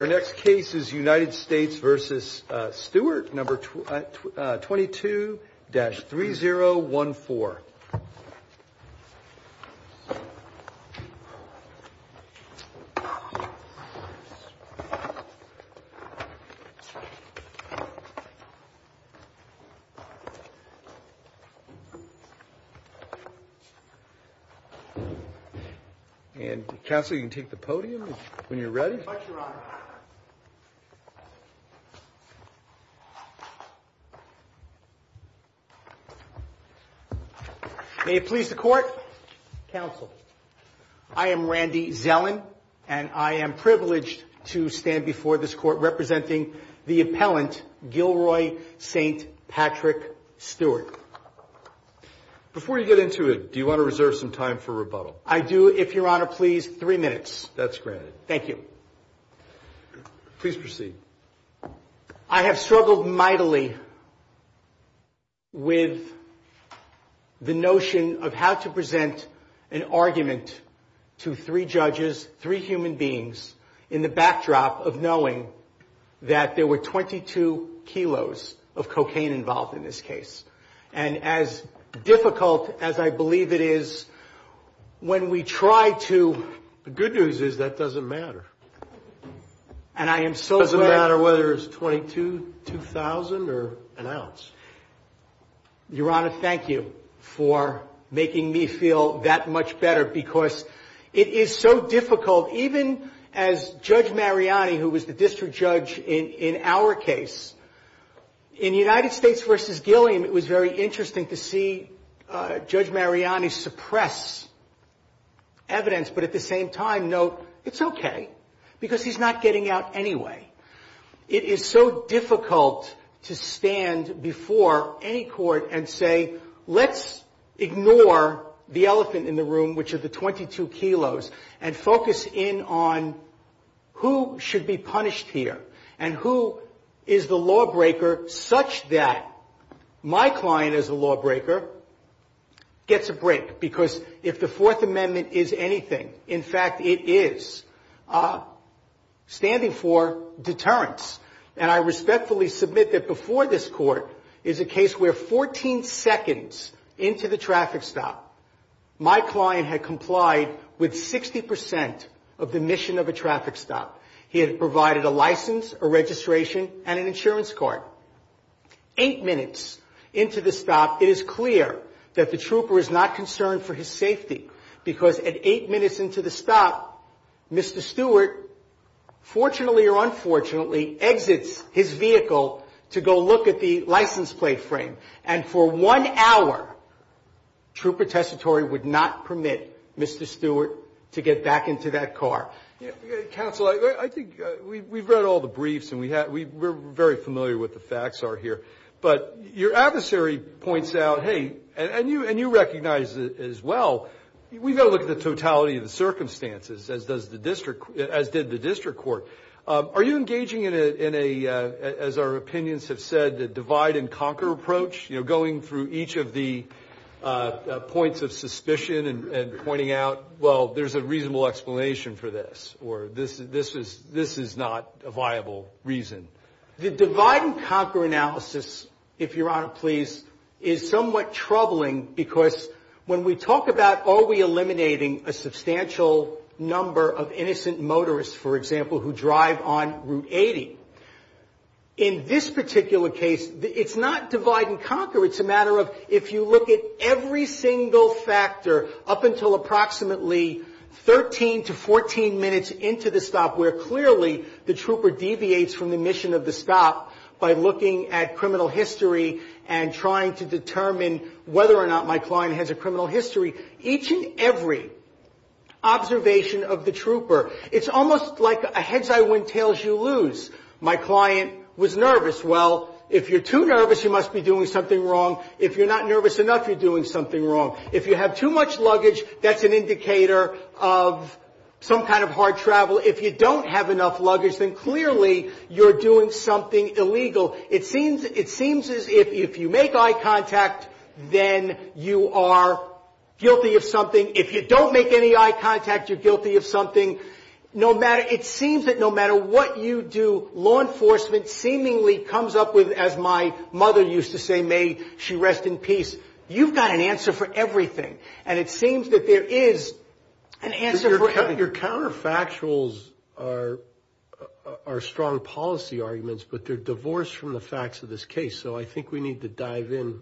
The next case is United States v. Stewart, number 22-3014. And, Counsel, you can take the podium when you're ready. Thank you very much, Your Honor. May it please the Court, Counsel. I am Randy Zellin, and I am privileged to stand before this Court representing the appellant, Gilroy St.Patrick Stewart. Before you get into it, do you want to reserve some time for rebuttal? I do, if Your Honor please, three minutes. That's granted. Thank you. Please proceed. I have struggled mightily with the notion of how to present an argument to three judges, three human beings, in the backdrop of knowing that there were 22 kilos of cocaine involved in this case. And as difficult as I believe it is, when we try to... The good news is that doesn't matter. And I am so glad... It doesn't matter whether it's 22, 2,000 or an ounce. Your Honor, thank you for making me feel that much better because it is so difficult. Even as Judge Mariani, who was the district judge in our case, in United States v. Gilliam, it was very interesting to see Judge Mariani suppress evidence, but at the same time note, it's okay because he's not getting out anyway. It is so difficult to stand before any court and say, let's ignore the elephant in the room, which are the 22 kilos, and focus in on who should be punished here and who is the lawbreaker such that my client as a lawbreaker gets a break. Because if the Fourth Amendment is anything, in fact it is, standing for deterrence. And I respectfully submit that before this court is a case where 14 seconds into the traffic stop, my client had complied with 60% of the mission of a traffic stop. He had provided a license, a registration, and an insurance card. Eight minutes into the stop, it is clear that the trooper is not concerned for his safety because at eight minutes into the stop, Mr. Stewart, fortunately or unfortunately, exits his vehicle to go look at the license plate frame. And for one hour, trooper testatory would not permit Mr. Stewart to get back into that car. Counsel, I think we've read all the briefs and we're very familiar with the facts here. But your adversary points out, hey, and you recognize it as well, we've got to look at the totality of the circumstances, as did the district court. Are you engaging in a, as our opinions have said, a divide and conquer approach? You know, going through each of the points of suspicion and pointing out, well, there's a reasonable explanation for this or this is not a viable reason. The divide and conquer analysis, if Your Honor please, is somewhat troubling because when we talk about are we eliminating a substantial number of innocent motorists, for example, who drive on Route 80, in this particular case, it's not divide and conquer. It's a matter of if you look at every single factor up until approximately 13 to 14 minutes into the stop where clearly the trooper deviates from the mission of the stop by looking at criminal history and trying to determine whether or not my client has a criminal history. Each and every observation of the trooper, it's almost like a heads I win, tails you lose. My client was nervous. Well, if you're too nervous, you must be doing something wrong. If you're not nervous enough, you're doing something wrong. If you have too much luggage, that's an indicator of some kind of hard travel. If you don't have enough luggage, then clearly you're doing something illegal. It seems as if you make eye contact, then you are guilty of something. If you don't make any eye contact, you're guilty of something. It seems that no matter what you do, law enforcement seemingly comes up with, as my mother used to say, may she rest in peace. You've got an answer for everything, and it seems that there is an answer for everything. Your counterfactuals are strong policy arguments, but they're divorced from the facts of this case. So I think we need to dive in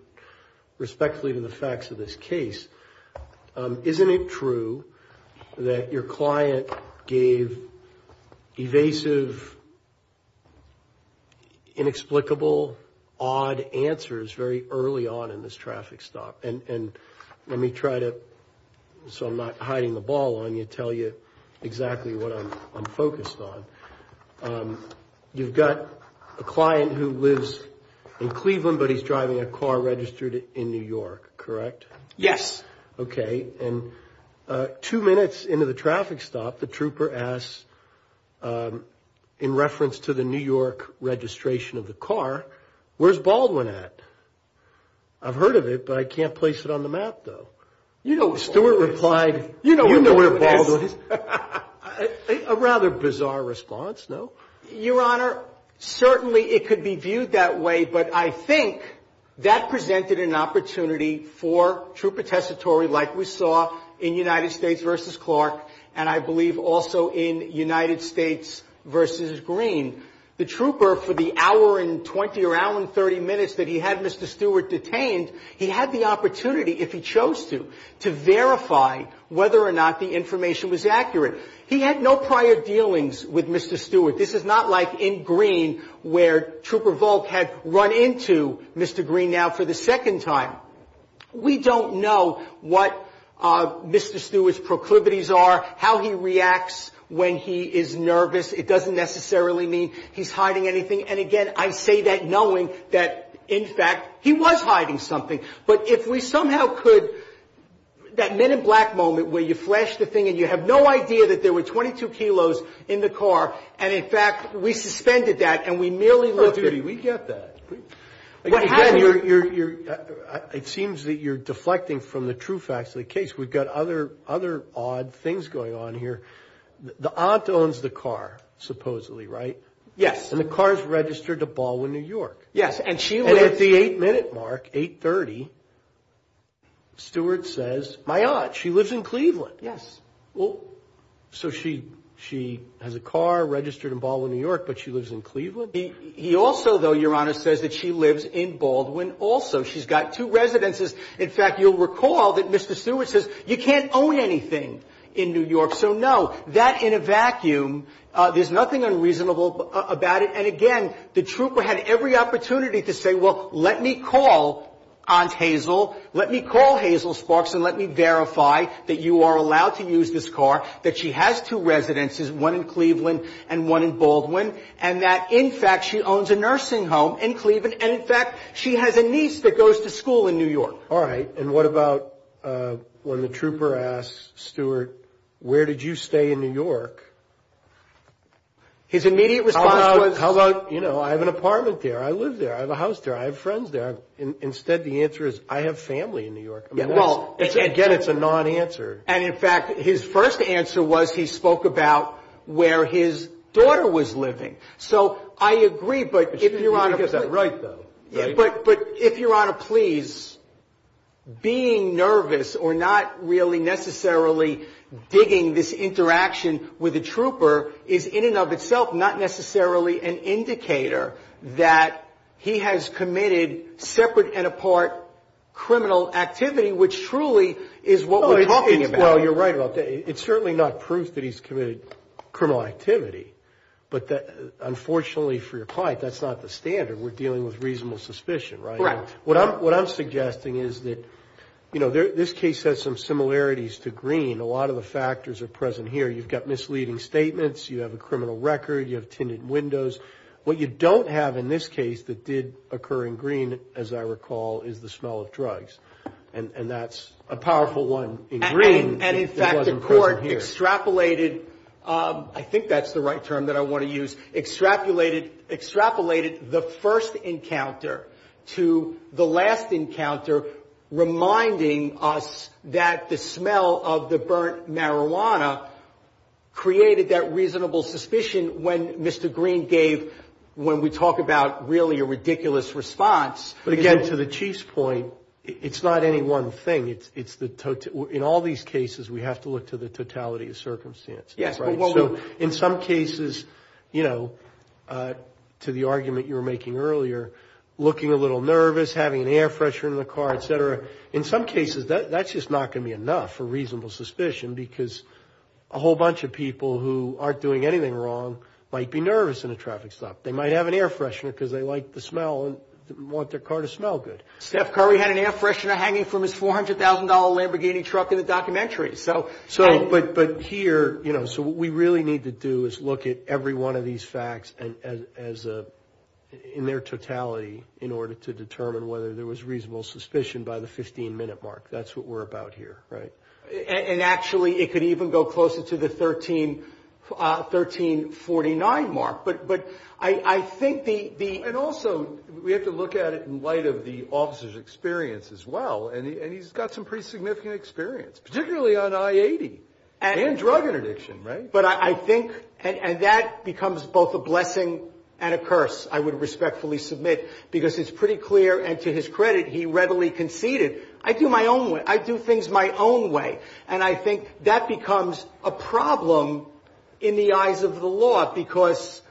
respectfully to the facts of this case. Isn't it true that your client gave evasive, inexplicable, odd answers very early on in this traffic stop? And let me try to, so I'm not hiding the ball on you, tell you exactly what I'm focused on. You've got a client who lives in Cleveland, but he's driving a car registered in New York, correct? Yes. Okay, and two minutes into the traffic stop, the trooper asks, in reference to the New York registration of the car, where's Baldwin at? I've heard of it, but I can't place it on the map, though. You know where Baldwin is. Stewart replied, you know where Baldwin is. You know where Baldwin is. A rather bizarre response, no? Your Honor, certainly it could be viewed that way, but I think that presented an opportunity for trooper testatory, like we saw in United States v. Clark, and I believe also in United States v. Green. The trooper, for the hour and 20 or hour and 30 minutes that he had Mr. Stewart detained, he had the opportunity, if he chose to, to verify whether or not the information was accurate. He had no prior dealings with Mr. Stewart. This is not like in Green where trooper Volk had run into Mr. Green now for the second time. We don't know what Mr. Stewart's proclivities are, how he reacts when he is nervous. It doesn't necessarily mean he's hiding anything. And, again, I say that knowing that, in fact, he was hiding something. But if we somehow could, that men in black moment where you flash the thing and you have no idea that there were 22 kilos in the car and, in fact, we suspended that and we merely looked at it. Oh, Judy, we get that. Again, it seems that you're deflecting from the true facts of the case. We've got other odd things going on here. The aunt owns the car, supposedly, right? Yes. And the car is registered to Baldwin, New York. Yes, and she lives. And at the 8-minute mark, 8.30, Stewart says, my aunt, she lives in Cleveland. Yes. So she has a car registered in Baldwin, New York, but she lives in Cleveland? He also, though, Your Honor, says that she lives in Baldwin also. She's got two residences. In fact, you'll recall that Mr. Stewart says, you can't own anything in New York. So, no, that in a vacuum, there's nothing unreasonable about it. And, again, the trooper had every opportunity to say, well, let me call Aunt Hazel, let me call Hazel Sparks and let me verify that you are allowed to use this car, that she has two residences, one in Cleveland and one in Baldwin, and that, in fact, she owns a nursing home in Cleveland, and, in fact, she has a niece that goes to school in New York. All right. And what about when the trooper asks Stewart, where did you stay in New York? His immediate response was. How about, you know, I have an apartment there. I live there. I have a house there. I have friends there. Instead, the answer is, I have family in New York. Again, it's a non-answer. And, in fact, his first answer was he spoke about where his daughter was living. So I agree, but if Your Honor. She did get that right, though. But, if Your Honor, please, being nervous or not really necessarily digging this interaction with a trooper is, in and of itself, not necessarily an indicator that he has committed separate and apart criminal activity, which truly is what we're talking about. Well, you're right about that. It's certainly not proof that he's committed criminal activity. But, unfortunately for your client, that's not the standard. We're dealing with reasonable suspicion, right? Correct. What I'm suggesting is that, you know, this case has some similarities to Green. A lot of the factors are present here. You've got misleading statements. You have a criminal record. You have tinted windows. What you don't have in this case that did occur in Green, as I recall, is the smell of drugs. And that's a powerful one in Green. And, in fact, the court extrapolated. I think that's the right term that I want to use. Extrapolated the first encounter to the last encounter, reminding us that the smell of the burnt marijuana created that reasonable suspicion when Mr. Green gave, when we talk about really a ridiculous response. But, again, to the Chief's point, it's not any one thing. In all these cases, we have to look to the totality of circumstances. Yes. Right. So, in some cases, you know, to the argument you were making earlier, looking a little nervous, having an air freshener in the car, et cetera. In some cases, that's just not going to be enough for reasonable suspicion because a whole bunch of people who aren't doing anything wrong might be nervous in a traffic stop. They might have an air freshener because they like the smell and want their car to smell good. Steph Curry had an air freshener hanging from his $400,000 Lamborghini truck in the documentary. So, but here, you know, so what we really need to do is look at every one of these facts in their totality in order to determine whether there was reasonable suspicion by the 15-minute mark. That's what we're about here, right? And, actually, it could even go closer to the 1349 mark. But I think the... And, also, we have to look at it in light of the officer's experience as well. And he's got some pretty significant experience, particularly on I-80 and drug interdiction, right? But I think, and that becomes both a blessing and a curse, I would respectfully submit, because it's pretty clear, and to his credit, he readily conceded, I do my own way. I do things my own way, and I think that becomes a problem in the eyes of the law because,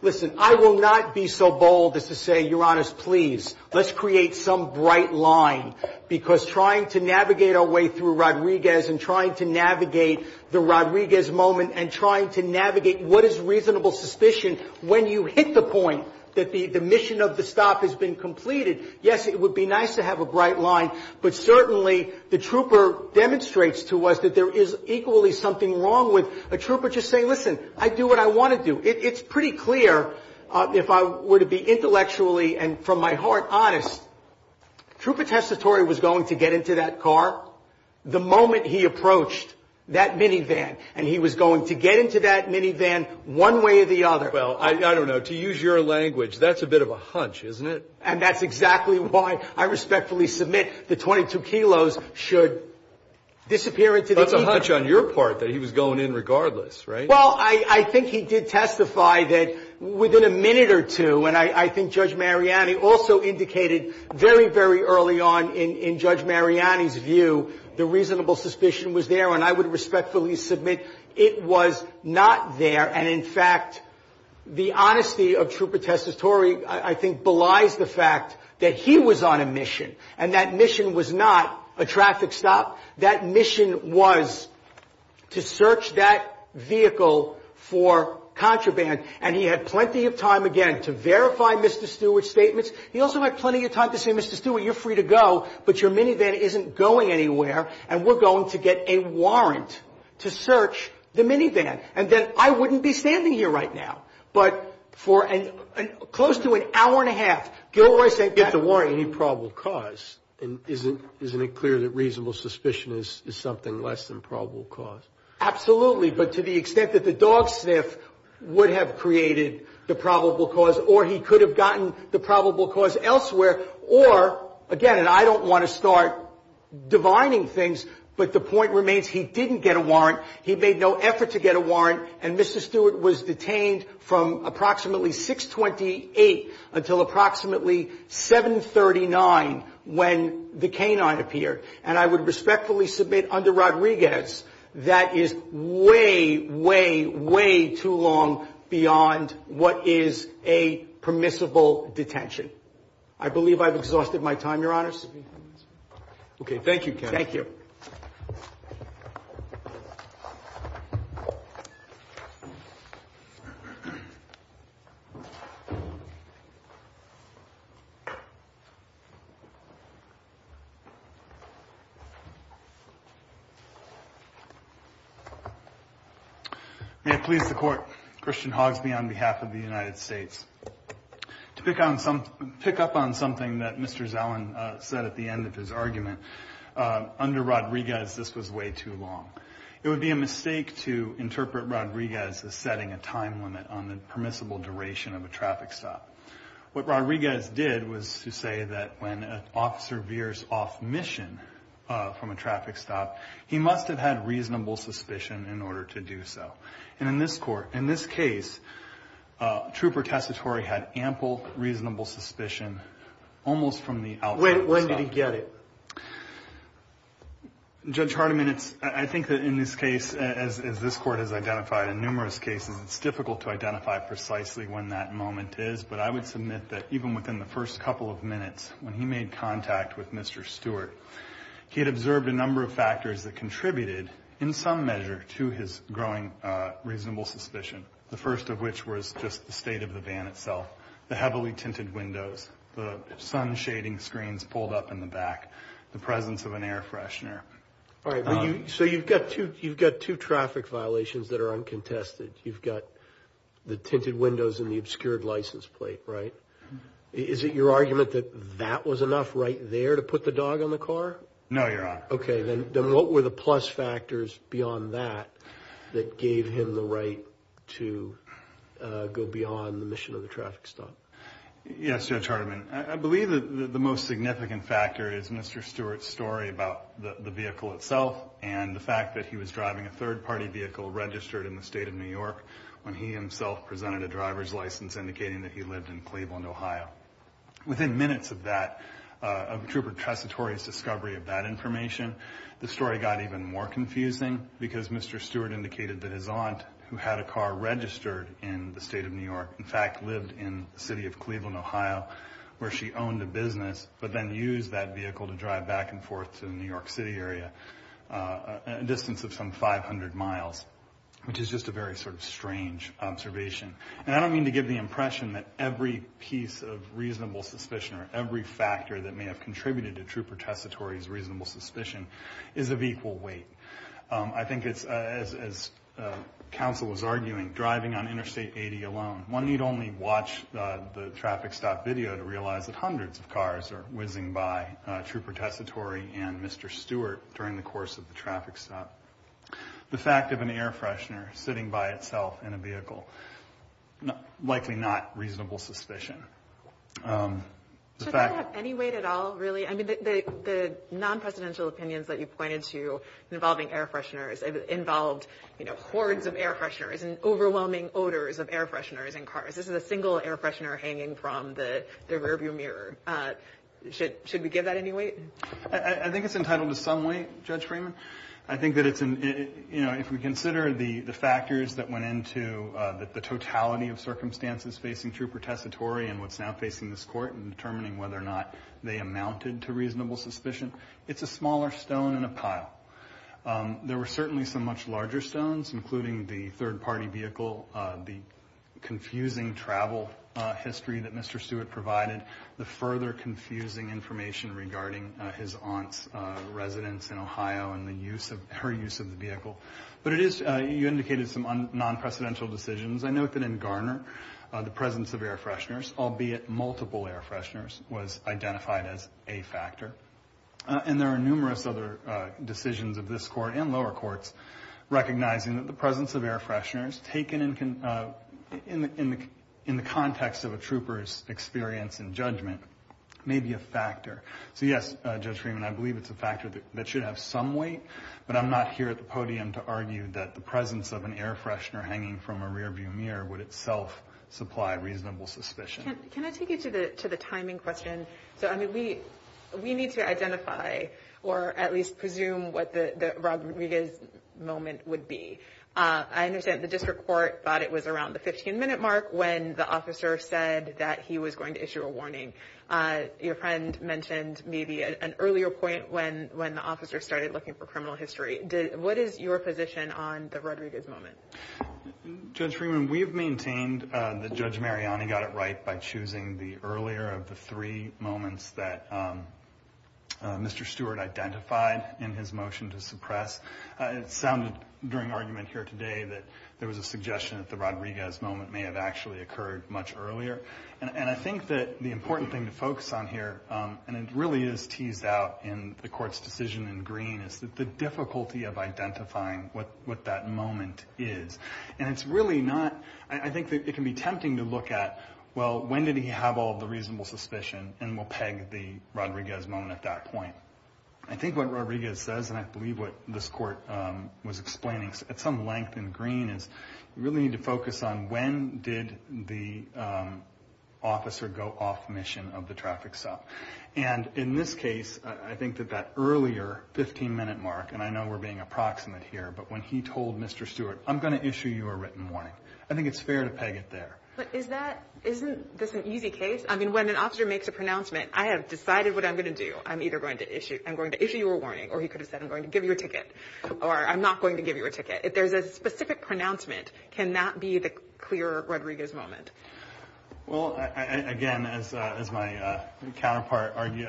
listen, I will not be so bold as to say, Your Honors, please, let's create some bright line because trying to navigate our way through Rodriguez and trying to navigate the Rodriguez moment and trying to navigate what is reasonable suspicion when you hit the point that the mission of the stop has been completed, yes, it would be nice to have a bright line, but, certainly, the trooper demonstrates to us that there is equally something wrong with a trooper just saying, Listen, I do what I want to do. It's pretty clear, if I were to be intellectually and from my heart honest. Trooper Testatori was going to get into that car the moment he approached that minivan, and he was going to get into that minivan one way or the other. Well, I don't know. To use your language, that's a bit of a hunch, isn't it? And that's exactly why I respectfully submit the 22 kilos should disappear into the evening. That's a hunch on your part that he was going in regardless, right? Well, I think he did testify that within a minute or two, and I think Judge Mariani also indicated very, very early on in Judge Mariani's view, the reasonable suspicion was there, and I would respectfully submit it was not there, and, in fact, the honesty of Trooper Testatori, I think, belies the fact that he was on a mission, and that mission was not a traffic stop. That mission was to search that vehicle for contraband, and he had plenty of time, again, to verify Mr. Stewart's statements. He also had plenty of time to say, Mr. Stewart, you're free to go, but your minivan isn't going anywhere, and we're going to get a warrant to search the minivan, and then I wouldn't be standing here right now. But for close to an hour and a half, Gilroy said get the warrant. Any probable cause, and isn't it clear that reasonable suspicion is something less than probable cause? Absolutely, but to the extent that the dog sniff would have created the probable cause or he could have gotten the probable cause elsewhere or, again, and I don't want to start divining things, but the point remains he didn't get a warrant. He made no effort to get a warrant, and Mr. Stewart was detained from approximately 6-28 until approximately 7-39 when the canine appeared, and I would respectfully submit under Rodriguez that is way, way, way too long beyond what is a permissible detention. I believe I've exhausted my time, Your Honors. May it please the Court. Christian Hogsby on behalf of the United States. To pick up on something that Mr. Zellin said at the end of his argument, under Rodriguez this was way too long. It would be a mistake to interpret Rodriguez as setting a time limit on the permissible duration of a traffic stop. What Rodriguez did was to say that when an officer veers off mission from a traffic stop, he must have had reasonable suspicion in order to do so. And in this case, Trooper Tessitore had ample reasonable suspicion almost from the outset. When did he get it? Judge Hardiman, I think in this case, as this Court has identified in numerous cases, it's difficult to identify precisely when that moment is, but I would submit that even within the first couple of minutes when he made contact with Mr. Stewart, he had observed a number of factors that contributed in some measure to his growing reasonable suspicion. The first of which was just the state of the van itself, the heavily tinted windows, the sun shading screens pulled up in the back, the presence of an air freshener. All right, so you've got two traffic violations that are uncontested. You've got the tinted windows and the obscured license plate, right? Is it your argument that that was enough right there to put the dog on the car? No, Your Honor. Okay, then what were the plus factors beyond that that gave him the right to go beyond the mission of the traffic stop? Yes, Judge Hardiman, I believe that the most significant factor is Mr. Stewart's story about the vehicle itself and the fact that he was driving a third-party vehicle registered in the state of New York when he himself presented a driver's license indicating that he lived in Cleveland, Ohio. Within minutes of that, of Trooper Tresitore's discovery of that information, the story got even more confusing because Mr. Stewart indicated that his aunt, who had a car registered in the state of New York, in fact lived in the city of Cleveland, Ohio, where she owned a business but then used that vehicle to drive back and forth to the New York City area a distance of some 500 miles, which is just a very sort of strange observation. And I don't mean to give the impression that every piece of reasonable suspicion or every factor that may have contributed to Trooper Tresitore's reasonable suspicion is of equal weight. I think it's, as counsel was arguing, driving on Interstate 80 alone. One need only watch the traffic stop video to realize that hundreds of cars are whizzing by Trooper Tresitore and Mr. Stewart during the course of the traffic stop. The fact of an air freshener sitting by itself in a vehicle, likely not reasonable suspicion. Does that have any weight at all, really? I mean, the non-presidential opinions that you pointed to involving air fresheners involved hordes of air fresheners and overwhelming odors of air fresheners in cars. This is a single air freshener hanging from the rearview mirror. Should we give that any weight? I think it's entitled to some weight, Judge Freeman. I think that if we consider the factors that went into the totality of circumstances facing Trooper Tresitore and what's now facing this court in determining whether or not they amounted to reasonable suspicion, it's a smaller stone in a pile. There were certainly some much larger stones, including the third-party vehicle, the confusing travel history that Mr. Stewart provided, the further confusing information regarding his aunt's residence in Ohio and her use of the vehicle. But you indicated some non-presidential decisions. I note that in Garner, the presence of air fresheners, albeit multiple air fresheners, was identified as a factor. And there are numerous other decisions of this court and lower courts recognizing that the presence of air fresheners taken in the context of a trooper's experience in judgment may be a factor. So yes, Judge Freeman, I believe it's a factor that should have some weight, but I'm not here at the podium to argue that the presence of an air freshener hanging from a rearview mirror would itself supply reasonable suspicion. Can I take you to the timing question? We need to identify, or at least presume, what the Rodriguez moment would be. I understand the district court thought it was around the 15-minute mark when the officer said that he was going to issue a warning. Your friend mentioned maybe an earlier point when the officer started looking for criminal history. What is your position on the Rodriguez moment? Judge Freeman, we've maintained that Judge Mariani got it right by choosing the earlier of the three moments that Mr. Stewart identified in his motion to suppress. It sounded during argument here today that there was a suggestion that the Rodriguez moment may have actually occurred much earlier. And I think that the important thing to focus on here, and it really is teased out in the court's decision in green, is the difficulty of identifying what that moment is. I think it can be tempting to look at, well, when did he have all the reasonable suspicion? And we'll peg the Rodriguez moment at that point. I think what Rodriguez says, and I believe what this court was explaining at some length in green, is you really need to focus on when did the officer go off mission of the traffic stop. And in this case, I think that that earlier 15-minute mark, and I know we're being approximate here, but when he told Mr. Stewart, I'm going to issue you a written warning, I think it's fair to peg it there. But isn't this an easy case? I mean, when an officer makes a pronouncement, I have decided what I'm going to do. I'm either going to issue you a warning, or he could have said, I'm going to give you a ticket, or I'm not going to give you a ticket. If there's a specific pronouncement, can that be the clear Rodriguez moment? Well, again, as my counterpart argued,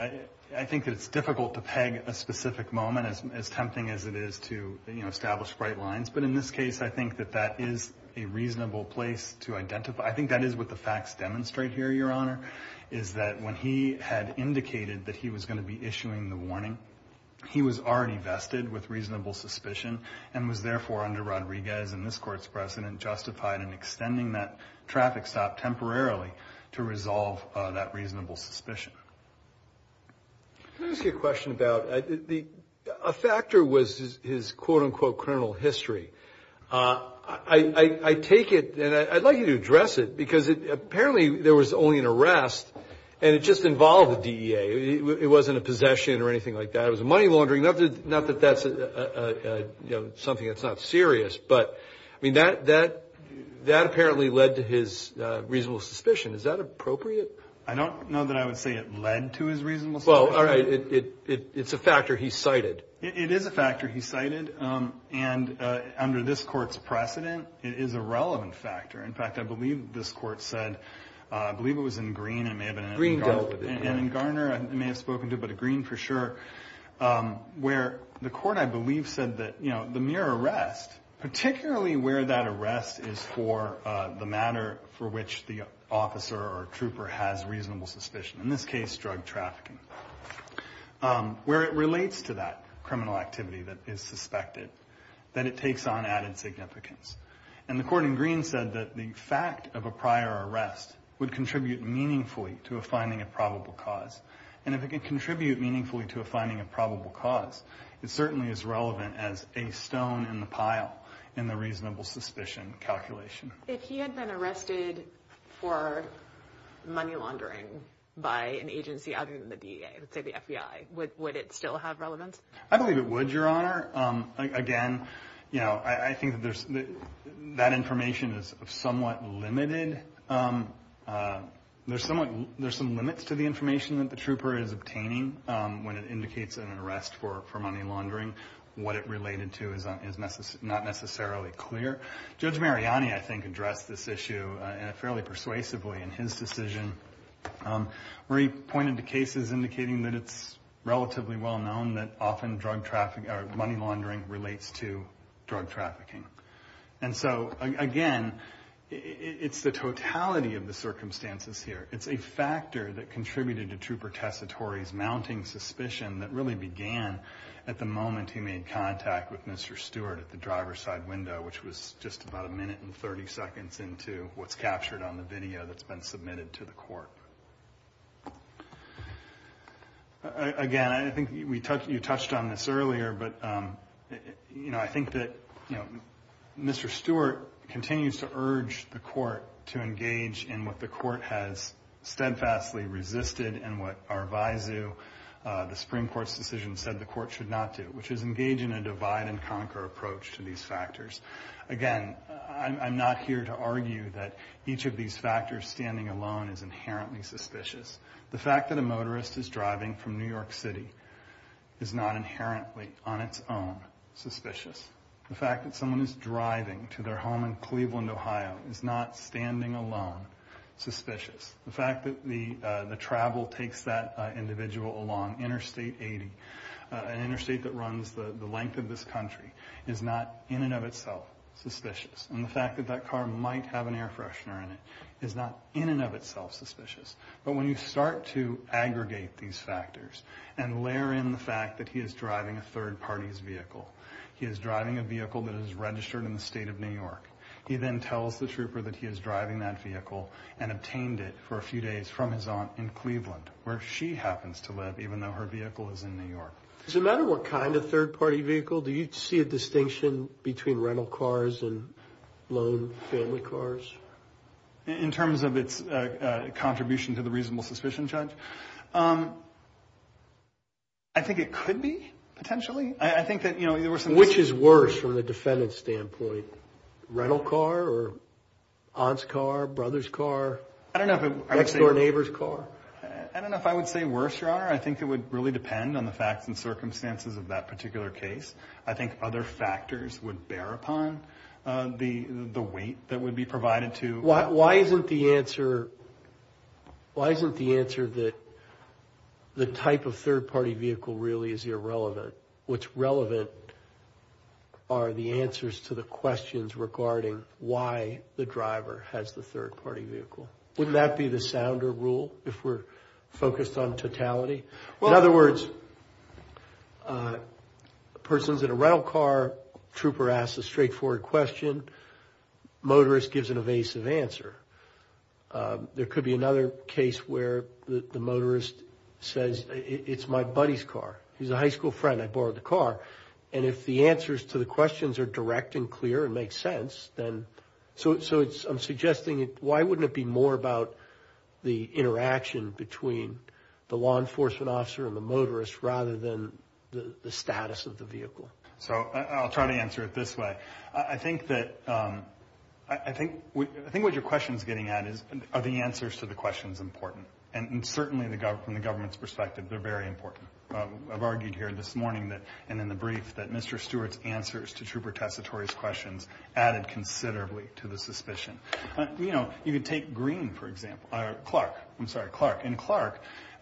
I think that it's difficult to peg a specific moment, as tempting as it is to establish bright lines. But in this case, I think that that is a reasonable place to identify. I think that is what the facts demonstrate here, Your Honor, is that when he had indicated that he was going to be issuing the warning, he was already vested with reasonable suspicion, and was therefore, under Rodriguez and this Court's precedent, justified in extending that traffic stop temporarily to resolve that reasonable suspicion. Let me ask you a question about, a factor was his quote-unquote criminal history. I take it, and I'd like you to address it, because apparently there was only an arrest, and it just involved the DEA. It wasn't a possession or anything like that. It was a money laundering, not that that's something that's not serious, but that apparently led to his reasonable suspicion. Is that appropriate? I don't know that I would say it led to his reasonable suspicion. Well, all right, it's a factor he cited. It is a factor he cited, and under this Court's precedent, it is a relevant factor. In fact, I believe this Court said, I believe it was in Green, it may have been in Garner, I may have spoken to, but Green for sure, where the Court, I believe, said that the mere arrest, particularly where that arrest is for the matter for which the officer or trooper has reasonable suspicion, in this case drug trafficking, where it relates to that criminal activity that is suspected, that it takes on added significance. And the Court in Green said that the fact of a prior arrest would contribute meaningfully to a finding of probable cause. And if it can contribute meaningfully to a finding of probable cause, it certainly is relevant as a stone in the pile in the reasonable suspicion calculation. If he had been arrested for money laundering by an agency other than the DEA, let's say the FBI, would it still have relevance? I believe it would, Your Honor. Again, I think that information is somewhat limited. There's some limits to the information that the trooper is obtaining when it indicates an arrest for money laundering. What it related to is not necessarily clear. Judge Mariani, I think, addressed this issue fairly persuasively in his decision, where he pointed to cases indicating that it's relatively well known that often money laundering relates to drug trafficking. And so, again, it's the totality of the circumstances here. It's a factor that contributed to Trooper Tessitore's mounting suspicion that really began at the moment he made contact with Mr. Stewart at the driver's side window, which was just about a minute and 30 seconds into what's captured on the video that's been submitted to the Court. Again, I think you touched on this earlier, but I think that Mr. Stewart continues to urge the Court to engage in what the Court has steadfastly resisted and what our visu, the Supreme Court's decision said the Court should not do, which is engage in a divide-and-conquer approach to these factors. Again, I'm not here to argue that each of these factors standing alone is inherently suspicious. The fact that a motorist is driving from New York City is not inherently on its own suspicious. The fact that someone is driving to their home in Cleveland, Ohio is not standing alone suspicious. The fact that the travel takes that individual along Interstate 80, an interstate that runs the length of this country, is not in and of itself suspicious. And the fact that that car might have an air freshener in it is not in and of itself suspicious. But when you start to aggregate these factors and layer in the fact that he is driving a third-party's vehicle, he is driving a vehicle that is registered in the state of New York, he then tells the trooper that he is driving that vehicle and obtained it for a few days from his aunt in Cleveland, where she happens to live, even though her vehicle is in New York. Does it matter what kind of third-party vehicle? Do you see a distinction between rental cars and loan family cars? In terms of its contribution to the reasonable suspicion, Judge? I think it could be, potentially. Which is worse from the defendant's standpoint? Rental car or aunt's car, brother's car, next-door neighbor's car? I don't know if I would say worse, Your Honor. I think it would really depend on the facts and circumstances of that particular case. I think other factors would bear upon the weight that would be provided to... Why isn't the answer that the type of third-party vehicle really is irrelevant? What's relevant are the answers to the questions regarding why the driver has the third-party vehicle. Wouldn't that be the sounder rule, if we're focused on totality? In other words, a person's in a rental car, trooper asks a straightforward question, motorist gives an evasive answer. There could be another case where the motorist says, it's my buddy's car, he's a high school friend, I borrowed the car. If the answers to the questions are direct and clear and make sense, why wouldn't it be more about the interaction between the law enforcement officer and the motorist, rather than the status of the vehicle? I'll try to answer it this way. I think what your question is getting at is, are the answers to the questions important? Certainly from the government's perspective, they're very important. I've argued here this morning and in the brief that Mr. Stewart's answers to trooper Tessitore's questions added considerably to the suspicion. You could take Clark.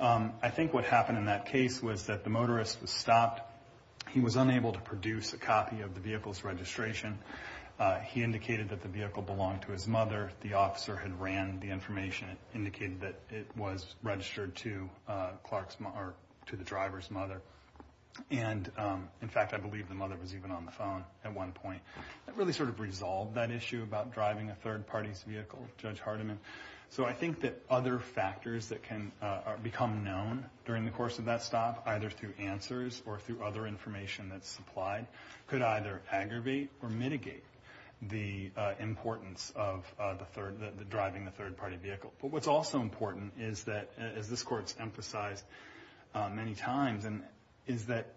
I think what happened in that case was that the motorist was stopped. He was unable to produce a copy of the vehicle's registration. He indicated that the vehicle belonged to his mother. The officer had ran the information and indicated that it was registered to the driver's mother. In fact, I believe the mother was even on the phone at one point. That really sort of resolved that issue about driving a third party's vehicle, Judge Hardiman. I think that other factors that can become known during the course of that stop, either through answers or through other information that's supplied, could either aggravate or mitigate the importance of driving a third party vehicle. But what's also important is that, as this Court's emphasized many times, is that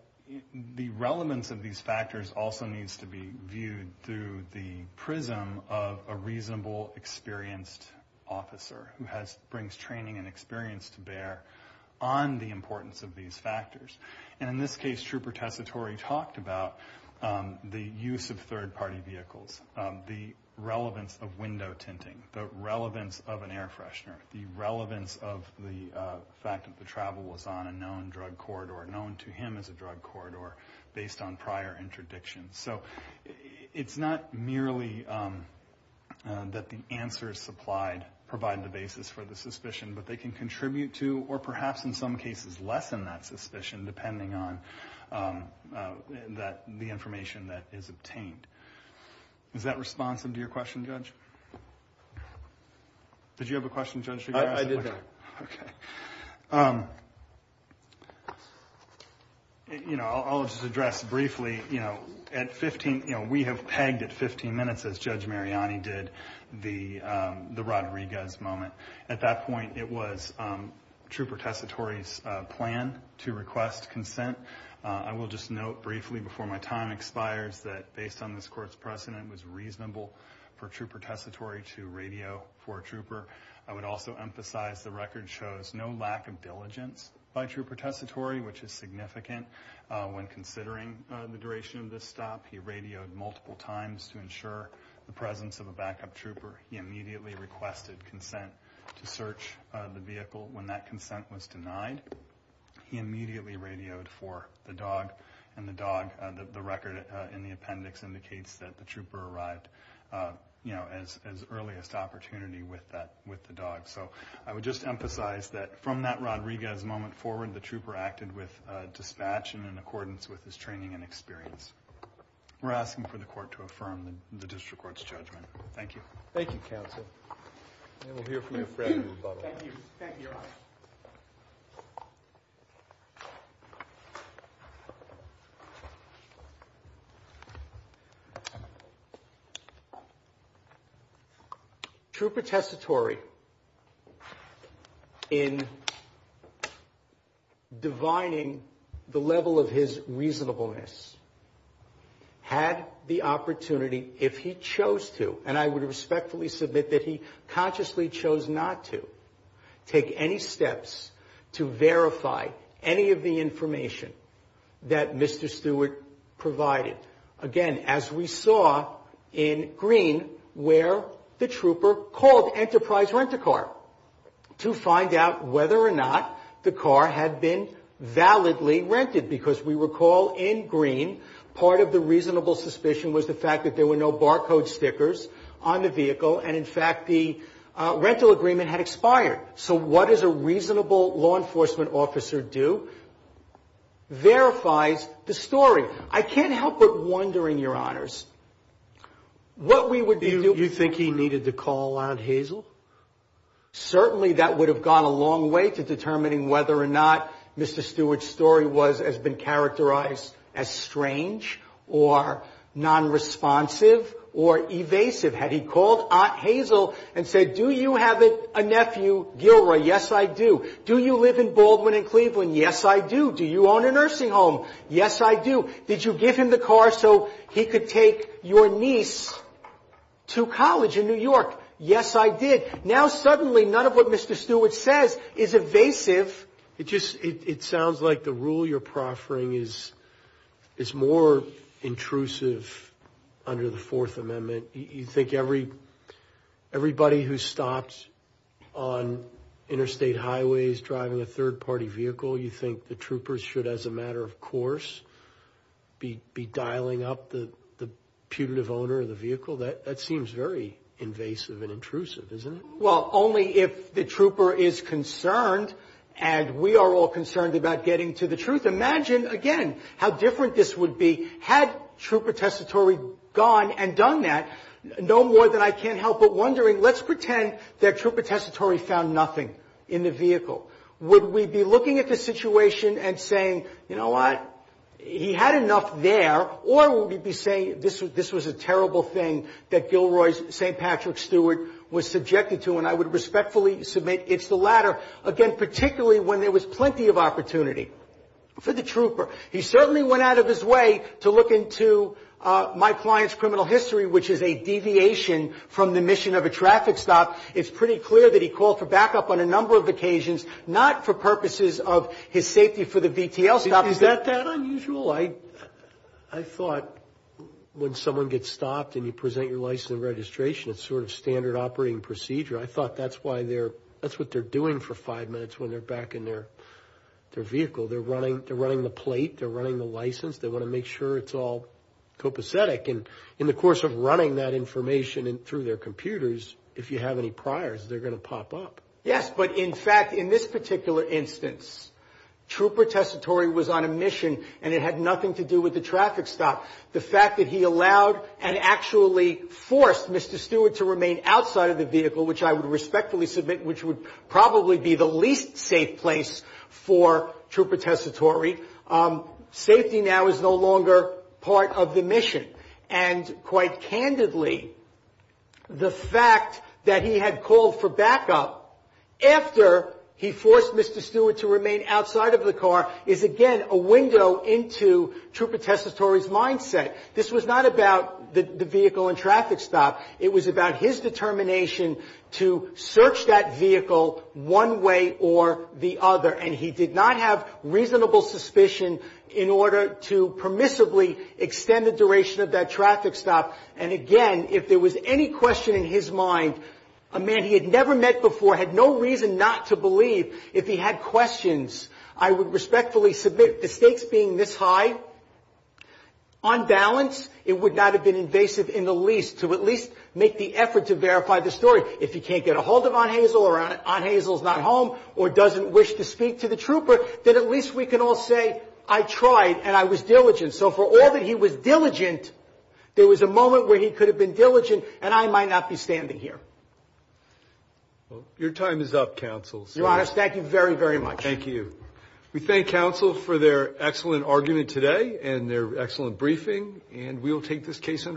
the relevance of these factors also needs to be viewed through the prism of a reasonable, experienced officer who brings training and experience to bear on the importance of these factors. In this case, trooper Tessitore talked about the use of third party vehicles, the relevance of window tinting, the relevance of an air freshener, the relevance of the fact that the travel was on a known drug corridor, known to him as a drug corridor, based on prior interdictions. So it's not merely that the answers supplied provide the basis for the suspicion, but they can contribute to, or perhaps in some cases lessen that suspicion, depending on the information that is obtained. Is that responsive to your question, Judge? Did you have a question, Judge? I did, though. Okay. I'll just address briefly. We have pegged at 15 minutes, as Judge Mariani did, the Rodriguez moment. At that point, it was Trooper Tessitore's plan to request consent. I will just note briefly, before my time expires, that based on this court's precedent, it was reasonable for Trooper Tessitore to radio for a trooper. I would also emphasize the record shows no lack of diligence by Trooper Tessitore, which is significant when considering the duration of this stop. He radioed multiple times to ensure the presence of a backup trooper. He immediately requested consent to search the vehicle. When that consent was denied, he immediately radioed for the dog, and the dog, the record in the appendix indicates that the trooper arrived as earliest opportunity with the dog. So I would just emphasize that from that Rodriguez moment forward, the trooper acted with dispatch and in accordance with his training and experience. We're asking for the court to affirm the district court's judgment. Thank you. Thank you, counsel. And we'll hear from your friend in a little while. Thank you. Thank you, Your Honor. Trooper Tessitore, in divining the level of his reasonableness, had the opportunity, if he chose to, and I would respectfully submit that he consciously chose not to, take any steps to verify any of the information that Mr. Stewart provided. Again, as we saw in Green, where the trooper called Enterprise Rent-A-Car to find out whether or not the car had been validly rented, because we recall in Green part of the reasonable suspicion was the fact that there were no barcode stickers on the vehicle, and in fact the rental agreement had expired. So what does a reasonable law enforcement officer do? Verifies the story. I can't help but wonder, in your honors, what we would do. Do you think he needed to call Aunt Hazel? Certainly that would have gone a long way to determining whether or not Mr. Stewart's story has been characterized as strange or nonresponsive or evasive. Had he called Aunt Hazel and said, do you have a nephew, Gilroy? Yes, I do. Do you live in Baldwin and Cleveland? Yes, I do. Do you own a nursing home? Yes, I do. Did you give him the car so he could take your niece to college in New York? Yes, I did. Now suddenly none of what Mr. Stewart says is evasive. It sounds like the rule you're proffering is more intrusive under the Fourth Amendment. You think everybody who stops on interstate highways driving a third-party vehicle, you think the troopers should, as a matter of course, be dialing up the putative owner of the vehicle? That seems very invasive and intrusive, isn't it? Well, only if the trooper is concerned, and we are all concerned about getting to the truth. Imagine, again, how different this would be had Trooper Tessitore gone and done that, no more than I can't help but wondering, let's pretend that Trooper Tessitore found nothing in the vehicle. Would we be looking at the situation and saying, you know what, he had enough there, or would we be saying this was a terrible thing that Gilroy's St. Patrick Stewart was subjected to, and I would respectfully submit it's the latter, again, particularly when there was plenty of opportunity for the trooper. He certainly went out of his way to look into my client's criminal history, which is a deviation from the mission of a traffic stop. It's pretty clear that he called for backup on a number of occasions, not for purposes of his safety for the VTL stop. Is that that unusual? I thought when someone gets stopped and you present your license and registration, it's sort of standard operating procedure. I thought that's what they're doing for five minutes when they're back in their vehicle. They're running the plate. They're running the license. They want to make sure it's all copacetic. And in the course of running that information through their computers, if you have any priors, they're going to pop up. Yes, but in fact, in this particular instance, Trooper Tessitore was on a mission and it had nothing to do with the traffic stop. The fact that he allowed and actually forced Mr. Stewart to remain outside of the vehicle, which I would respectfully submit, which would probably be the least safe place for Trooper Tessitore, safety now is no longer part of the mission. And quite candidly, the fact that he had called for backup after he forced Mr. Stewart to remain outside of the car is, again, a window into Trooper Tessitore's mindset. This was not about the vehicle and traffic stop. It was about his determination to search that vehicle one way or the other. And he did not have reasonable suspicion in order to permissibly extend the duration of that traffic stop. And, again, if there was any question in his mind, a man he had never met before, had no reason not to believe if he had questions, I would respectfully submit the stakes being this high. On balance, it would not have been invasive in the least to at least make the effort to verify the story. If he can't get a hold of Aunt Hazel or Aunt Hazel is not home or doesn't wish to speak to the Trooper, then at least we can all say I tried and I was diligent. So for all that he was diligent, there was a moment where he could have been diligent and I might not be standing here. Your time is up, counsel. Your Honor, thank you very, very much. Thank you. We thank counsel for their excellent argument today and their excellent briefing. And we will take this case under review.